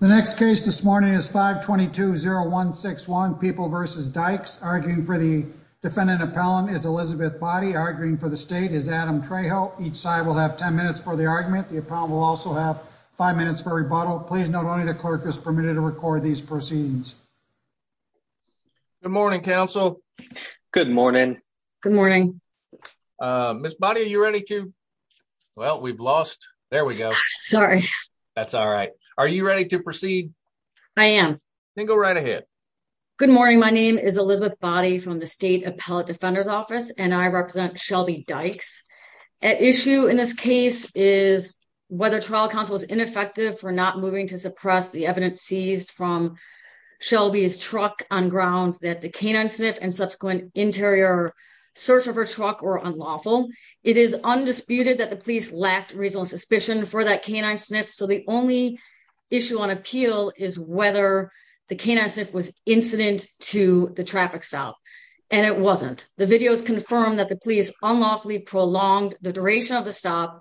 The next case this morning is 522-0161 People v. Dykes. Arguing for the defendant appellant is Elizabeth Boddy. Arguing for the state is Adam Trejo. Each side will have 10 minutes for the argument. The appellant will also have 5 minutes for rebuttal. Please note only the clerk is permitted to record these proceedings. Good morning, counsel. Good morning. Good morning. Ms. Boddy, are you ready to... Well, we've lost... There we go. Sorry. That's all right. Are you ready to proceed? I am. Then go right ahead. Good morning. My name is Elizabeth Boddy from the State Appellate Defender's Office, and I represent Shelby Dykes. At issue in this case is whether trial counsel is ineffective for not moving to suppress the evidence seized from Shelby's truck on grounds that the canine sniff and subsequent interior search of her truck were unlawful. It is undisputed that the police lacked reasonable suspicion for that canine sniff, so the only issue on appeal is whether the canine sniff was incident to the traffic stop, and it wasn't. The videos confirm that the police unlawfully prolonged the duration of the stop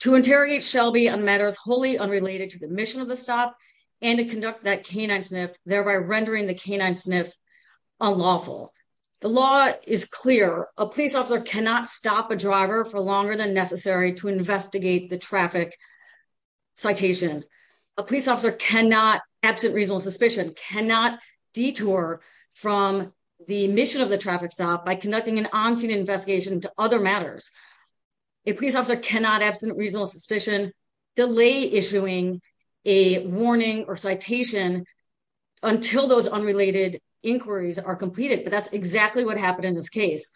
to interrogate Shelby on matters wholly unrelated to the mission of the stop and to conduct that canine sniff, thereby rendering the canine sniff unlawful. The law is clear. A police officer cannot stop a driver for longer than necessary to investigate the traffic citation. A police officer cannot, absent reasonable suspicion, cannot detour from the mission of the traffic stop by conducting an on-scene investigation into other matters. A police officer cannot, absent reasonable suspicion, delay issuing a warning or citation until those unrelated inquiries are completed, but that's exactly what happened in this case.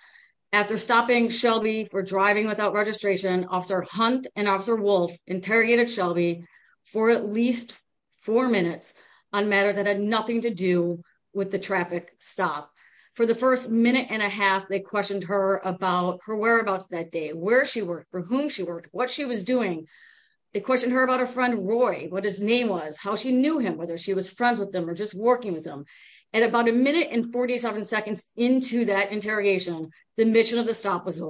After stopping Shelby for driving without registration, Officer Hunt and Officer Wolf interrogated Shelby for at least four minutes on matters that had nothing to do with the traffic stop. For the first minute and a half, they questioned her about her whereabouts that day, where she worked, for whom she worked, what she was doing. They questioned her about her friend Roy, what his name was, how she knew him, whether she was friends with him or just working with him. At about a minute and 47 seconds into that interrogation, the mission of the stop was to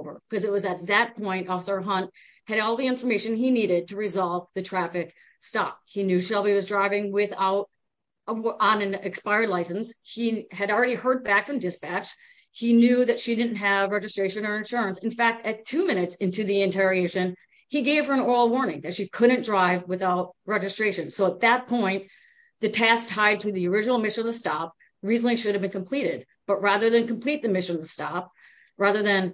resolve the traffic stop. He knew Shelby was driving on an expired license. He had already heard back from dispatch. He knew that she didn't have registration or insurance. In fact, at two minutes into the interrogation, he gave her an oral warning that she couldn't drive without registration. So at that point, the task tied to the original mission of the stop reasonably should have been completed. But rather than complete the mission of the stop, rather than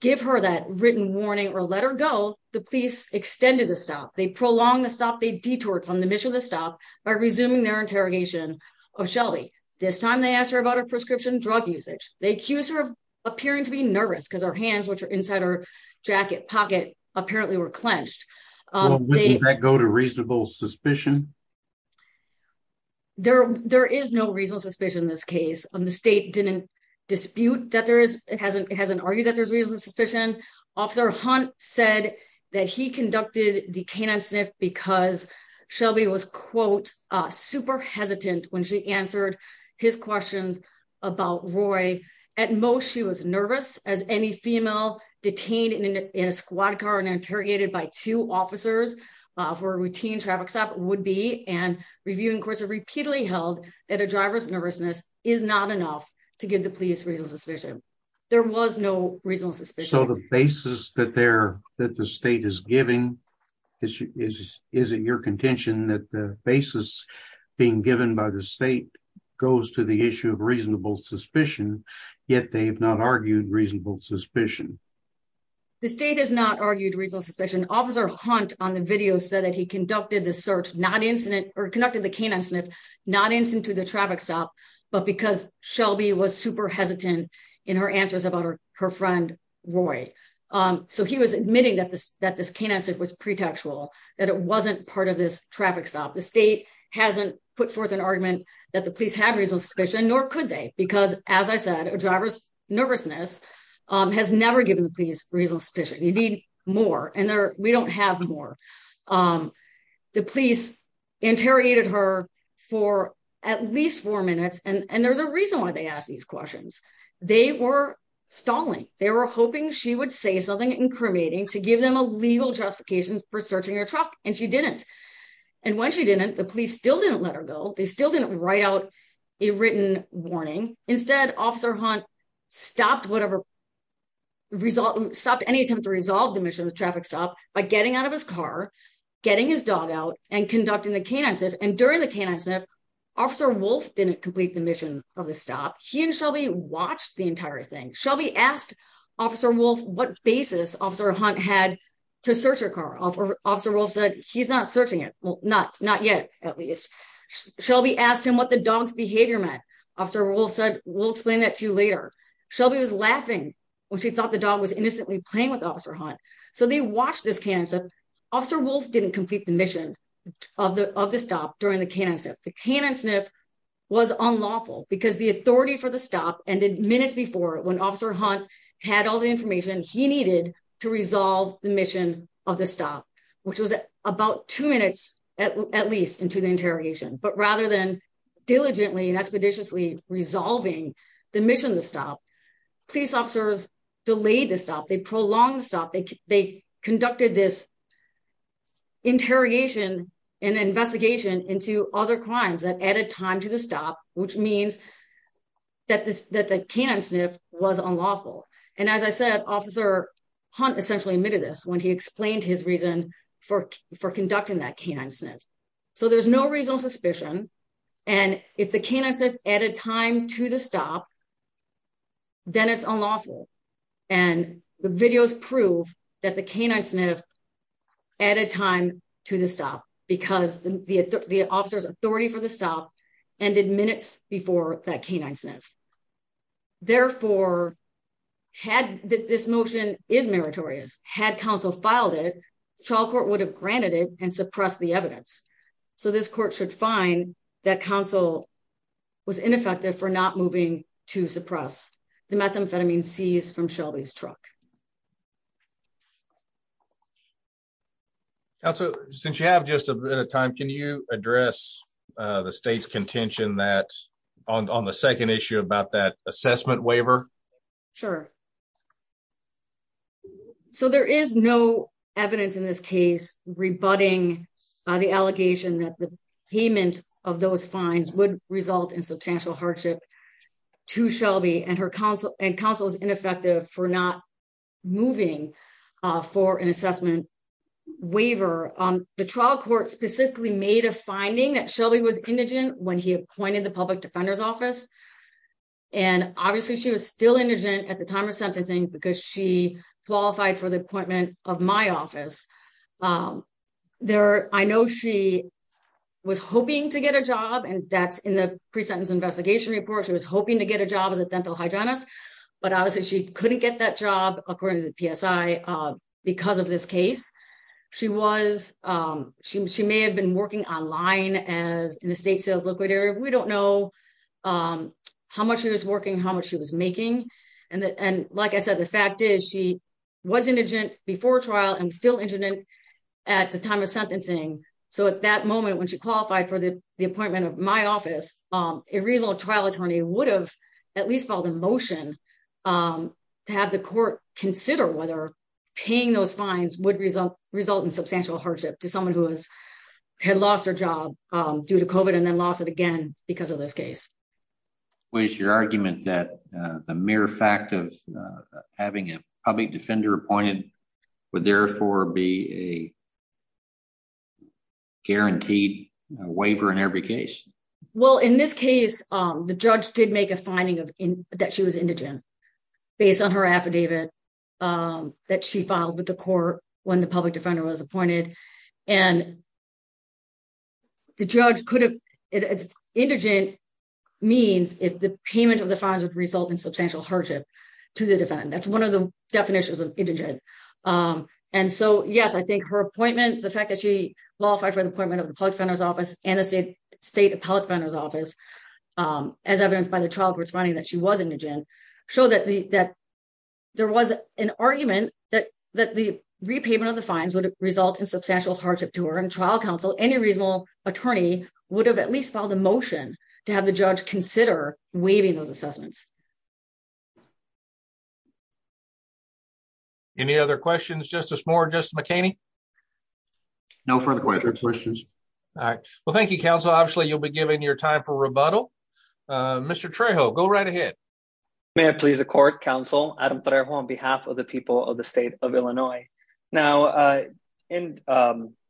give her that written warning or let her go, the police extended the stop. They prolonged the stop. They detoured from the mission of the stop by resuming their interrogation of Shelby. This time, they asked her about her prescription drug usage. They accused her of appearing to be nervous because her hands, which are inside her jacket pocket, apparently were clenched. Well, wouldn't that go to reasonable suspicion? There is no reasonable suspicion in this case. The state didn't dispute that there is. It hasn't argued that there's reasonable suspicion. Officer Hunt said that he conducted the canine sniff because Shelby was, quote, super hesitant when she answered his questions about Roy. At most, she was nervous, as any female detained in a squad car and interrogated by two officers for a routine traffic stop would be. And reviewing courts have repeatedly held that a driver's nervousness is not enough to give the police reasonable suspicion. There was no reasonable suspicion. So the basis that the state is giving, is it your contention that the basis being given by the state goes to the issue of reasonable suspicion, yet they've not argued reasonable suspicion? The state has not argued reasonable suspicion. Officer Hunt on the video said that he conducted the search, not incident, or conducted the canine sniff, not incident to the traffic stop, but because Shelby was super hesitant in her answers about her friend Roy. So he was admitting that this canine sniff was pretextual, that it wasn't part of this traffic stop. The state hasn't put forth an argument that the police have reasonable suspicion, nor could they. Because, as I said, a driver's nervousness has never given the police reasonable suspicion. You need more, and we don't have more. The police interrogated her for at least four minutes. And there's a reason why they asked these questions. They were stalling. They were hoping she would say something incriminating to give them a legal justification for searching her truck, and she didn't. And when she didn't, the police still didn't let her go. They still didn't write out a written warning. Instead, Officer Hunt stopped any attempt to resolve the mission of the traffic stop by getting out of his car, getting his dog out, and conducting the canine sniff. And during the canine sniff, Officer Wolfe didn't complete the mission of the stop. He and Shelby watched the entire thing. Shelby asked Officer Wolfe what basis Officer Hunt had to search her car. Officer Wolfe said, he's not searching it. Well, not yet, at least. Shelby asked him what the dog's behavior meant. Officer Wolfe said, we'll explain that to you later. Shelby was laughing when she thought the dog was innocently playing with Officer Hunt. So they watched this canine sniff. Officer Wolfe didn't complete the mission of the stop during the canine sniff. The canine sniff was unlawful because the authority for the stop ended minutes before, when Officer Hunt had all the information he needed to resolve the mission of the stop, which was about two minutes, at least, into the interrogation. But rather than diligently and expeditiously resolving the mission of the stop, police officers delayed the stop. They prolonged the stop. They conducted this interrogation and investigation into other crimes that added time to the stop, which means that the canine sniff was unlawful. And as I said, Officer Hunt essentially admitted this when he explained his reason for conducting that canine sniff. So there's no reasonable suspicion. And if the canine sniff added time to the stop, then it's unlawful. And the videos prove that the canine sniff added time to the stop because the officer's authority for the stop ended minutes before that canine sniff. Therefore, had this motion is meritorious, had counsel filed it, the trial court would have granted it and suppressed the evidence. So this court should find that counsel was ineffective for not moving to suppress the methamphetamine seized from Shelby's truck. Counsel, since you have just a bit of time, can you address the state's contention that on the second issue about that assessment waiver? Sure. So there is no evidence in this case rebutting the allegation that the payment of those fines would result in substantial hardship to Shelby and counsel is ineffective for not moving for an assessment waiver. The trial court specifically made a finding that Shelby was indigent when he appointed the public defender's office. And obviously, she was still indigent at the time of sentencing because she qualified for the appointment of my office. There, I know she was hoping to get a job and that's in the pre-sentence investigation report. She was hoping to get a job as a dental hygienist, but obviously, she couldn't get that job, according to the PSI, because of this case. She was, she may have been working online as an estate sales liquidator. We don't know how much she was working, how much she was making. And like I said, the fact is she was indigent before trial and still indigent after trial. At the time of sentencing. So at that moment, when she qualified for the appointment of my office, a real trial attorney would have at least filed a motion to have the court consider whether paying those fines would result in substantial hardship to someone who has had lost their job due to COVID and then lost it again because of this case. What is your argument that the mere fact of having a public defender appointed would therefore be a guaranteed waiver in every case? Well, in this case, the judge did make a finding that she was indigent based on her affidavit that she filed with the court when the public defender was appointed and the judge could have, indigent means if the payment of the fines would result in substantial hardship to the defendant. That's one of the definitions of indigent. And so, yes, I think her appointment, the fact that she qualified for the appointment of the public defender's office and the state public defender's office, as evidenced by the trial court's finding that she was indigent, showed that there was an argument that the repayment of the fines would result in substantial hardship to her and trial counsel, any reasonable attorney would have at least filed a motion to have the judge consider waiving those assessments. Any other questions, Justice Moore, Justice McHaney? No further questions. All right. Well, thank you, counsel. Obviously, you'll be given your time for rebuttal. Mr. Trejo, go right ahead. May I please the court, counsel, Adam Trejo on behalf of the people of the state of Illinois. Now,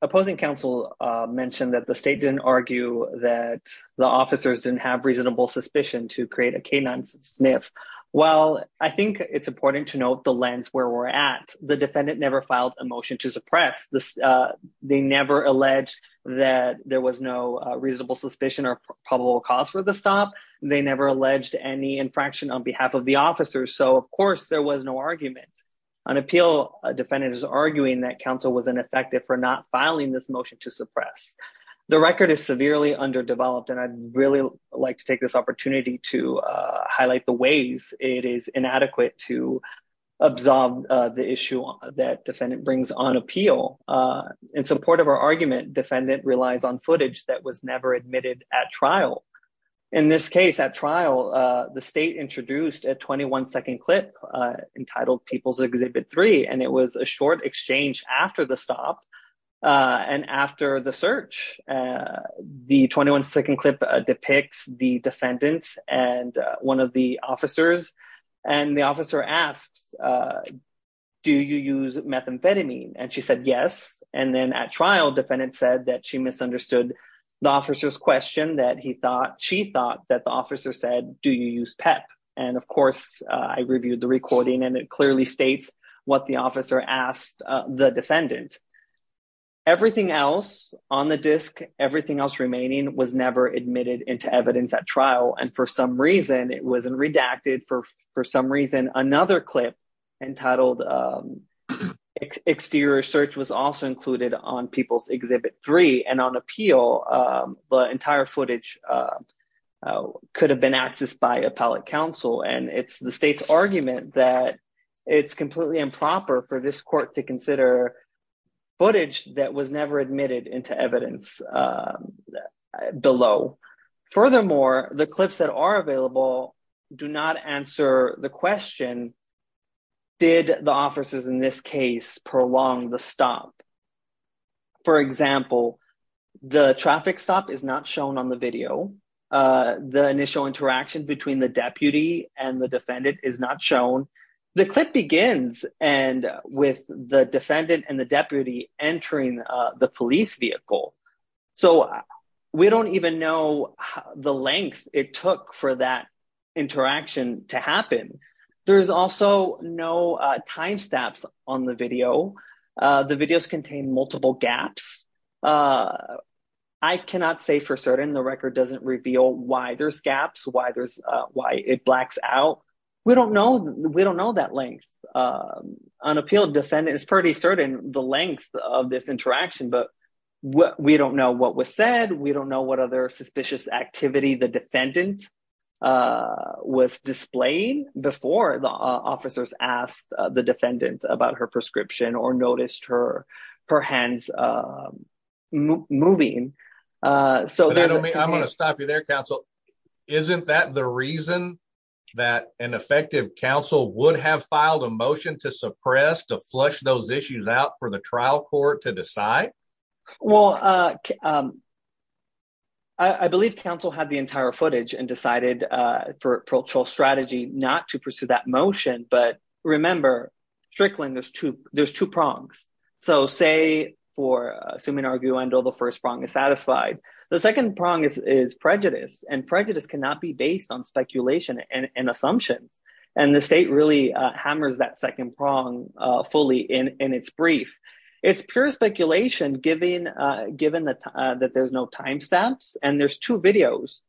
opposing counsel mentioned that the state didn't argue that the officers didn't have reasonable suspicion to create a canine sniff. Well, I think it's important to note the lens where we're at. The defendant never filed a motion to suppress. They never alleged that there was no reasonable suspicion or probable cause for the stop. They never alleged any infraction on behalf of the officers. So, of course, there was no argument. An appeal defendant is arguing that counsel was ineffective for not filing this motion to suppress. The record is severely underdeveloped, and I'd really like to take this opportunity to highlight the ways it is inadequate to absorb the issue that defendant brings on appeal. In support of our argument, defendant relies on footage that was never admitted at trial. In this case, at trial, the state introduced a 21-second clip entitled People's Exhibit 3, and it was a short exchange after the stop and after the search. The 21-second clip depicts the defendant and one of the officers, and the officer asks, do you use methamphetamine? And she said, yes. And then at trial, defendant said that she misunderstood the officer's question that she thought that the officer said, do you use PEP? And, of course, I reviewed the recording, and it clearly states what the officer asked the defendant. Everything else on the disc, everything else remaining was never admitted into evidence at trial, and for some reason, it wasn't redacted for some reason. Another clip entitled Exterior Search was also included on People's Exhibit 3, and on And it's the state's argument that it's completely improper for this court to consider footage that was never admitted into evidence below. Furthermore, the clips that are available do not answer the question, did the officers in this case prolong the stop? For example, the traffic stop is not shown on the video. The initial interaction between the deputy and the defendant is not shown. The clip begins and with the defendant and the deputy entering the police vehicle. So we don't even know the length it took for that interaction to happen. There's also no timestamps on the video. The videos contain multiple gaps. I cannot say for certain the record doesn't reveal why there's gaps, why it blacks out. We don't know. We don't know that length. Unappealed defendant is pretty certain the length of this interaction, but we don't know what was said. We don't know what other suspicious activity the defendant was displaying before the officers asked the defendant about her prescription or noticed her hands moving. I'm going to stop you there, counsel. Isn't that the reason that an effective counsel would have filed a motion to suppress, to flush those issues out for the trial court to decide? Well, I believe counsel had the entire footage and decided for patrol strategy not to pursue that motion. But remember, Strickland, there's two prongs. So say for assuming arguendo, the first prong is satisfied. The second prong is prejudice, and prejudice cannot be based on speculation and assumptions. And the state really hammers that second prong fully in its brief. It's pure speculation given that there's no timestamps. And there's two videos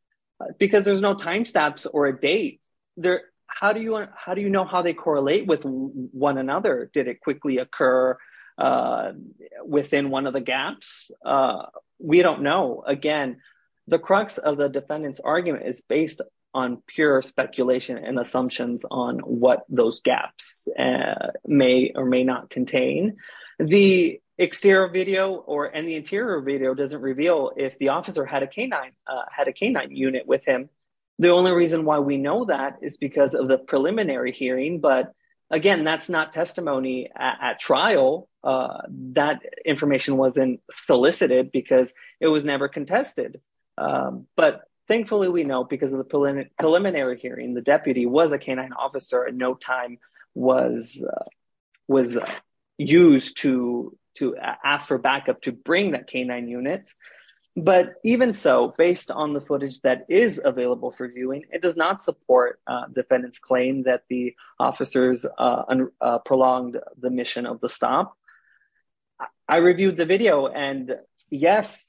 because there's no timestamps or a date. How do you know how they correlate with one another? Did it quickly occur within one of the gaps? We don't know. Again, the crux of the defendant's argument is based on pure speculation and assumptions on what those gaps may or may not contain. The exterior video and the interior video doesn't reveal if the officer had a canine unit with him. The only reason why we know that is because of the preliminary hearing. But again, that's not testimony at trial. That information wasn't solicited because it was never contested. But thankfully, we know because of the preliminary hearing, the deputy was a canine officer and no time was used to ask for backup to bring that canine unit. But even so, based on the footage that is available for viewing, it does not support defendant's claim that the officers prolonged the mission of the stop. I reviewed the video. And yes,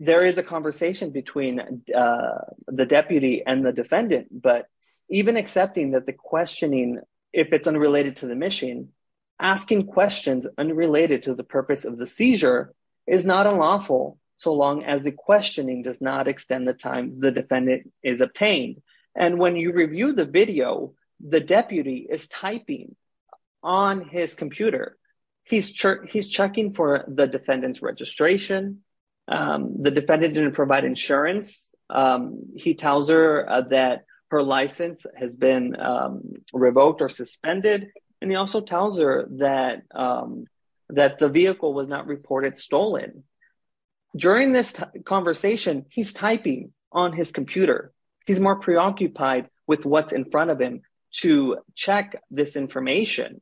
there is a conversation between the deputy and the defendant. But even accepting that the questioning, if it's unrelated to the mission, asking questions unrelated to the purpose of the seizure, is not unlawful so long as the questioning does not extend the time the defendant is obtained. And when you review the video, the deputy is typing on his computer. He's checking for the defendant's registration. The defendant didn't provide insurance. He tells her that her license has been revoked or suspended. And he also tells her that the vehicle was not reported stolen. During this conversation, he's typing on his computer. He's more preoccupied with what's in front of him to check this information.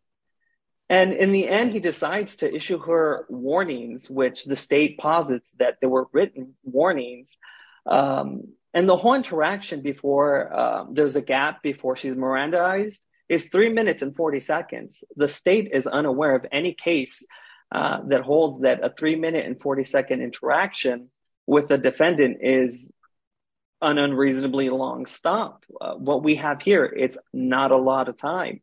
And in the end, he decides to issue her warnings, which the state posits that they were written warnings. And the whole interaction before there's a gap before she's Mirandized is three minutes and 40 seconds. The state is unaware of any case that holds that a three minute and 40 second interaction with the defendant is an unreasonably long stop. What we have here, it's not a lot of time.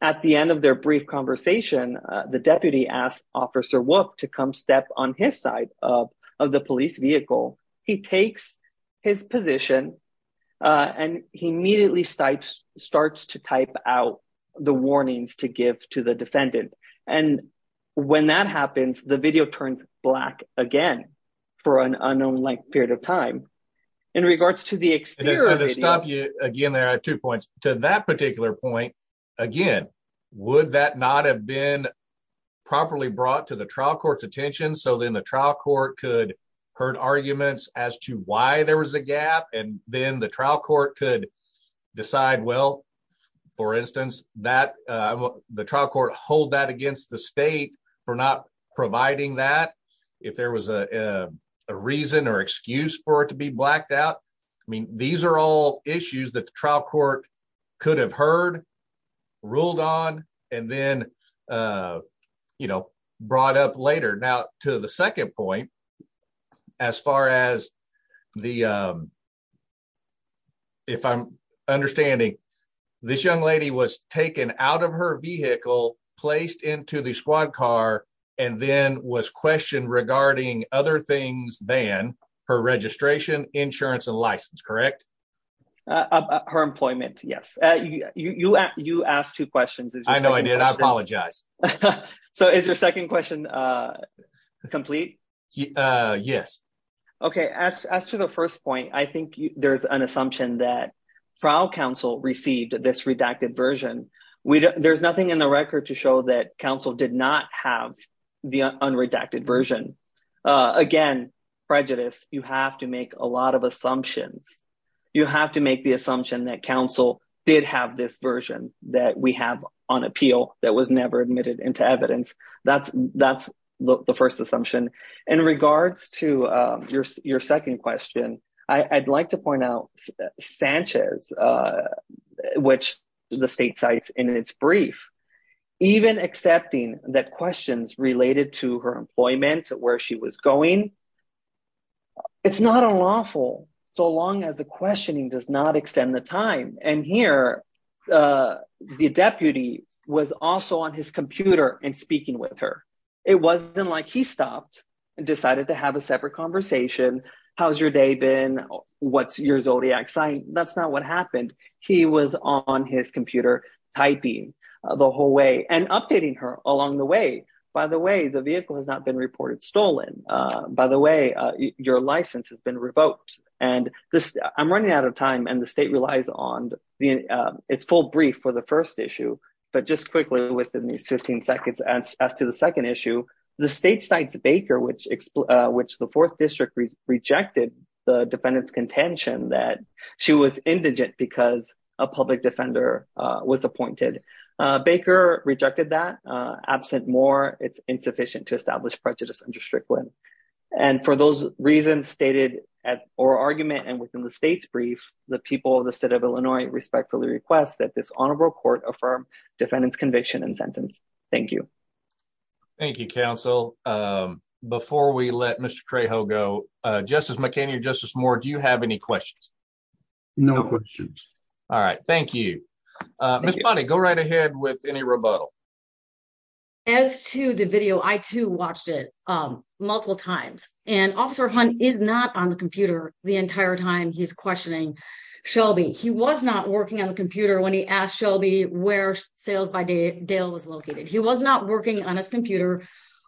At the end of their brief conversation, the deputy asked Officer Wook to come step on his side of the police vehicle. He takes his position, and he immediately starts to type out the warnings to give to the defendant. And when that happens, the video turns black again for an unknown length period of time. In regards to the exterior of the video- To stop you, again, there are two points. To that particular point, again, would that not have been properly brought to the trial court's attention? So then the trial court could heard arguments as to why there was a gap, and then the trial court could decide, well, for instance, that the trial court hold that against the state for not providing that if there was a reason or excuse for it to be blacked out. I mean, these are all issues that the trial court could have heard, ruled on, and then brought up later. Now, to the second point, as far as the- If I'm understanding, this young lady was taken out of her vehicle, placed into the squad car, and then was questioned regarding other things than her registration, insurance, and license, correct? Her employment, yes. You asked two questions. I know I did. I apologize. So is your second question complete? Yes. Okay, as to the first point, I think there's an assumption that trial counsel received this redacted version. There's nothing in the record to show that counsel did not have the unredacted version. Again, prejudice, you have to make a lot of assumptions. You have to make the assumption that counsel did have this version that we have on appeal that was never admitted into evidence. That's the first assumption. In regards to your second question, I'd like to point out Sanchez, which the state cites in its brief, even accepting that questions related to her employment, where she was going, it's not unlawful so long as the questioning does not extend the time. Here, the deputy was also on his computer and speaking with her. It wasn't like he stopped and decided to have a separate conversation. How's your day been? What's your Zodiac sign? That's not what happened. He was on his computer typing the whole way and updating her along the way. By the way, the vehicle has not been reported stolen. By the way, your license has been revoked. And I'm running out of time and the state relies on its full brief for the first issue. But just quickly within these 15 seconds, as to the second issue, the state cites Baker, which the fourth district rejected the defendant's contention that she was indigent because a public defender was appointed. Baker rejected that. Absent more, it's insufficient to establish prejudice under Strickland. And for those reasons stated at or argument and within the state's brief, the people of the state of Illinois respectfully request that this honorable court affirm defendants conviction and sentence. Thank you. Thank you, counsel. Before we let Mr. Trajo go, Justice McKenna, Justice Moore, do you have any questions? No questions. All right. Thank you. Miss Bonney, go right ahead with any rebuttal. As to the video, I too watched it multiple times and Officer Hunt is not on the computer the entire time he's questioning Shelby. He was not working on the computer when he asked Shelby where sales by Dale was located. He was not working on his computer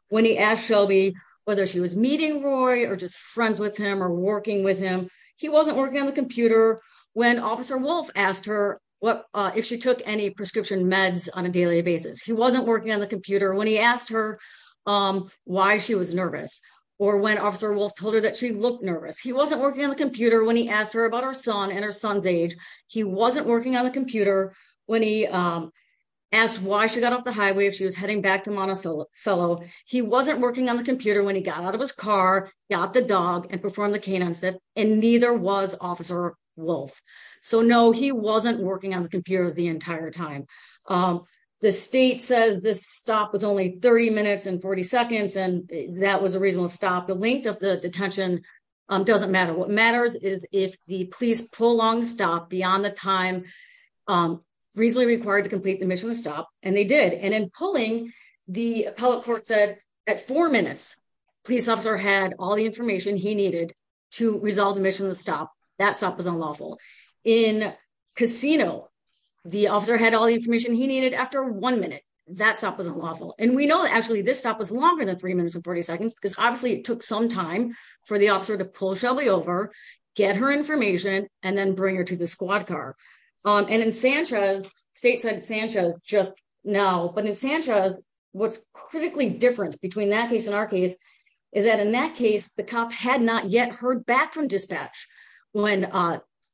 when he asked Shelby whether she was meeting Roy or just friends with him or working with him. He wasn't working on the computer when Officer Wolf asked her what if she took any prescription meds on a daily basis. He wasn't working on the computer when he asked her why she was nervous or when Officer Wolf told her that she looked nervous. He wasn't working on the computer when he asked her about her son and her son's age. He wasn't working on the computer when he asked why she got off the highway if she was heading back to Monticello. He wasn't working on the computer when he got out of his car, got the dog and performed the canine step and neither was Officer Wolf. So no, he wasn't working on the computer the entire time. The state says this stop was only 30 minutes and 40 seconds and that was a reasonable stop. The length of the detention doesn't matter. What matters is if the police prolong the stop beyond the time reasonably required to complete the mission of the stop and they did. And in pulling, the appellate court said at four minutes, police officer had all the information he needed to resolve the mission of the stop. That stop was unlawful. In Casino, the officer had all the information he needed after one minute. That stop wasn't lawful. And we know that actually this stop was longer than three minutes and 40 seconds because obviously it took some time for the officer to pull Shelby over, get her information and then bring her to the squad car. And in Sanchez, state said Sanchez just now, but in Sanchez, what's critically different between that case and our case is that in that case, the cop had not yet heard back from dispatch when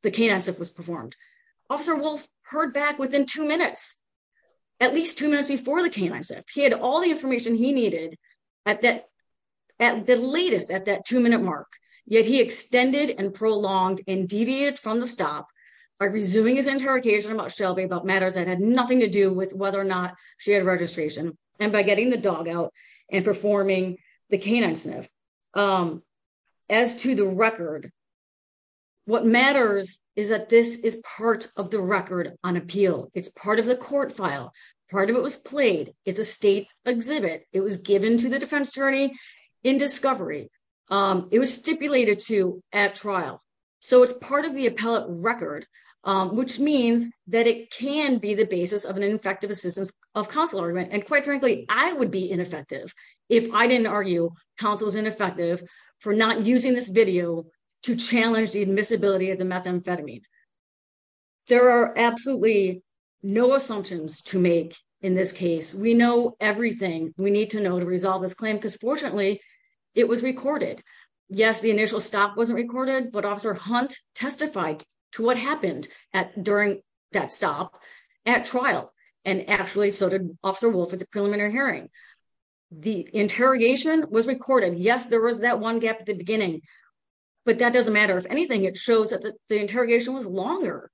the canine sniff was performed. Officer Wolf heard back within two minutes, at least two minutes before the canine sniff. He had all the information he needed at the latest at that two minute mark, yet he extended and prolonged and deviated from the stop by resuming his interrogation about Shelby about matters that had nothing to do with whether or not she had registration and by getting the dog out and performing the canine sniff. As to the record, what matters is that this is part of the record on appeal. It's part of the court file. Part of it was played. It's a state exhibit. It was given to the defense attorney in discovery. It was stipulated to at trial. So it's part of the appellate record, which means that it can be the basis of an ineffective assistance of counsel argument. Quite frankly, I would be ineffective if I didn't argue counsel is ineffective for not using this video to challenge the admissibility of the methamphetamine. There are absolutely no assumptions to make in this case. We know everything we need to know to resolve this claim because fortunately, it was recorded. Yes, the initial stop wasn't recorded, but Officer Hunt testified to what happened during that stop at trial, and actually so did Officer Wolf at the preliminary hearing. The interrogation was recorded. Yes, there was that one gap at the beginning, but that doesn't matter. If anything, it shows that the interrogation was longer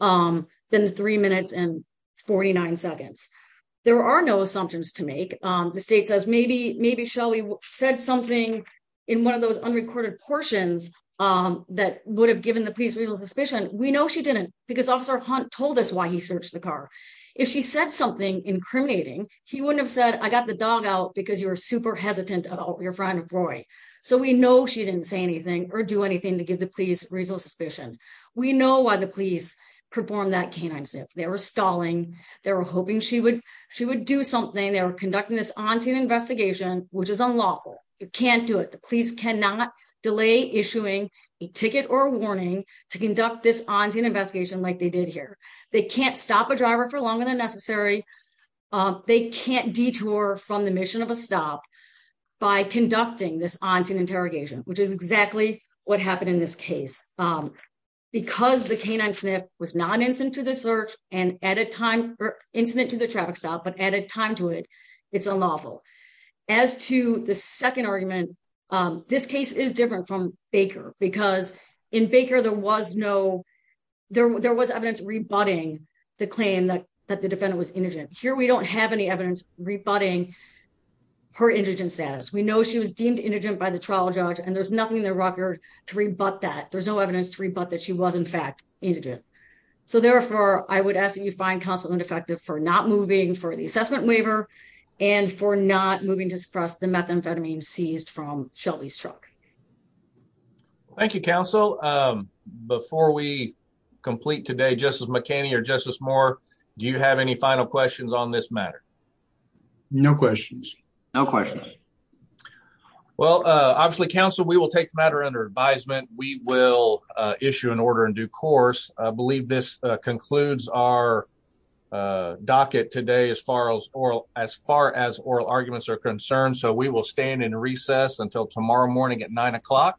than the three minutes and 49 seconds. There are no assumptions to make. The state says maybe Shelly said something in one of those unrecorded portions that would have given the police real suspicion. We know she didn't because Officer Hunt told us why he searched the car. If she said something incriminating, he wouldn't have said, I got the dog out because you're super hesitant about your friend, Roy. So we know she didn't say anything or do anything to give the police reasonable suspicion. We know why the police performed that canine zip. They were stalling. They were hoping she would do something. They were conducting this on-scene investigation, which is unlawful. You can't do it. The police cannot delay issuing a ticket or warning to conduct this on-scene investigation like they did here. They can't stop a driver for longer than necessary. They can't detour from the mission of a stop by conducting this on-scene interrogation, which is exactly what happened in this case. Because the canine sniff was not incident to the search and at a time or incident to the traffic stop, but added time to it, it's unlawful. As to the second argument, this case is different from Baker because in Baker, there was evidence rebutting the claim that the defendant was indigent. Here, we don't have any evidence rebutting her indigent status. We know she was deemed indigent by the trial judge, and there's nothing in the record to rebut that. There's no evidence to rebut that she was, in fact, indigent. So therefore, I would ask that you find counsel ineffective for not moving for the assessment the methamphetamine seized from Shelby's truck. Thank you, counsel. Before we complete today, Justice McKinney or Justice Moore, do you have any final questions on this matter? No questions. No questions. Well, obviously, counsel, we will take the matter under advisement. We will issue an order in due course. I believe this concludes our docket today as far as oral arguments are concerned. So we will stand in recess until tomorrow morning at 9 o'clock.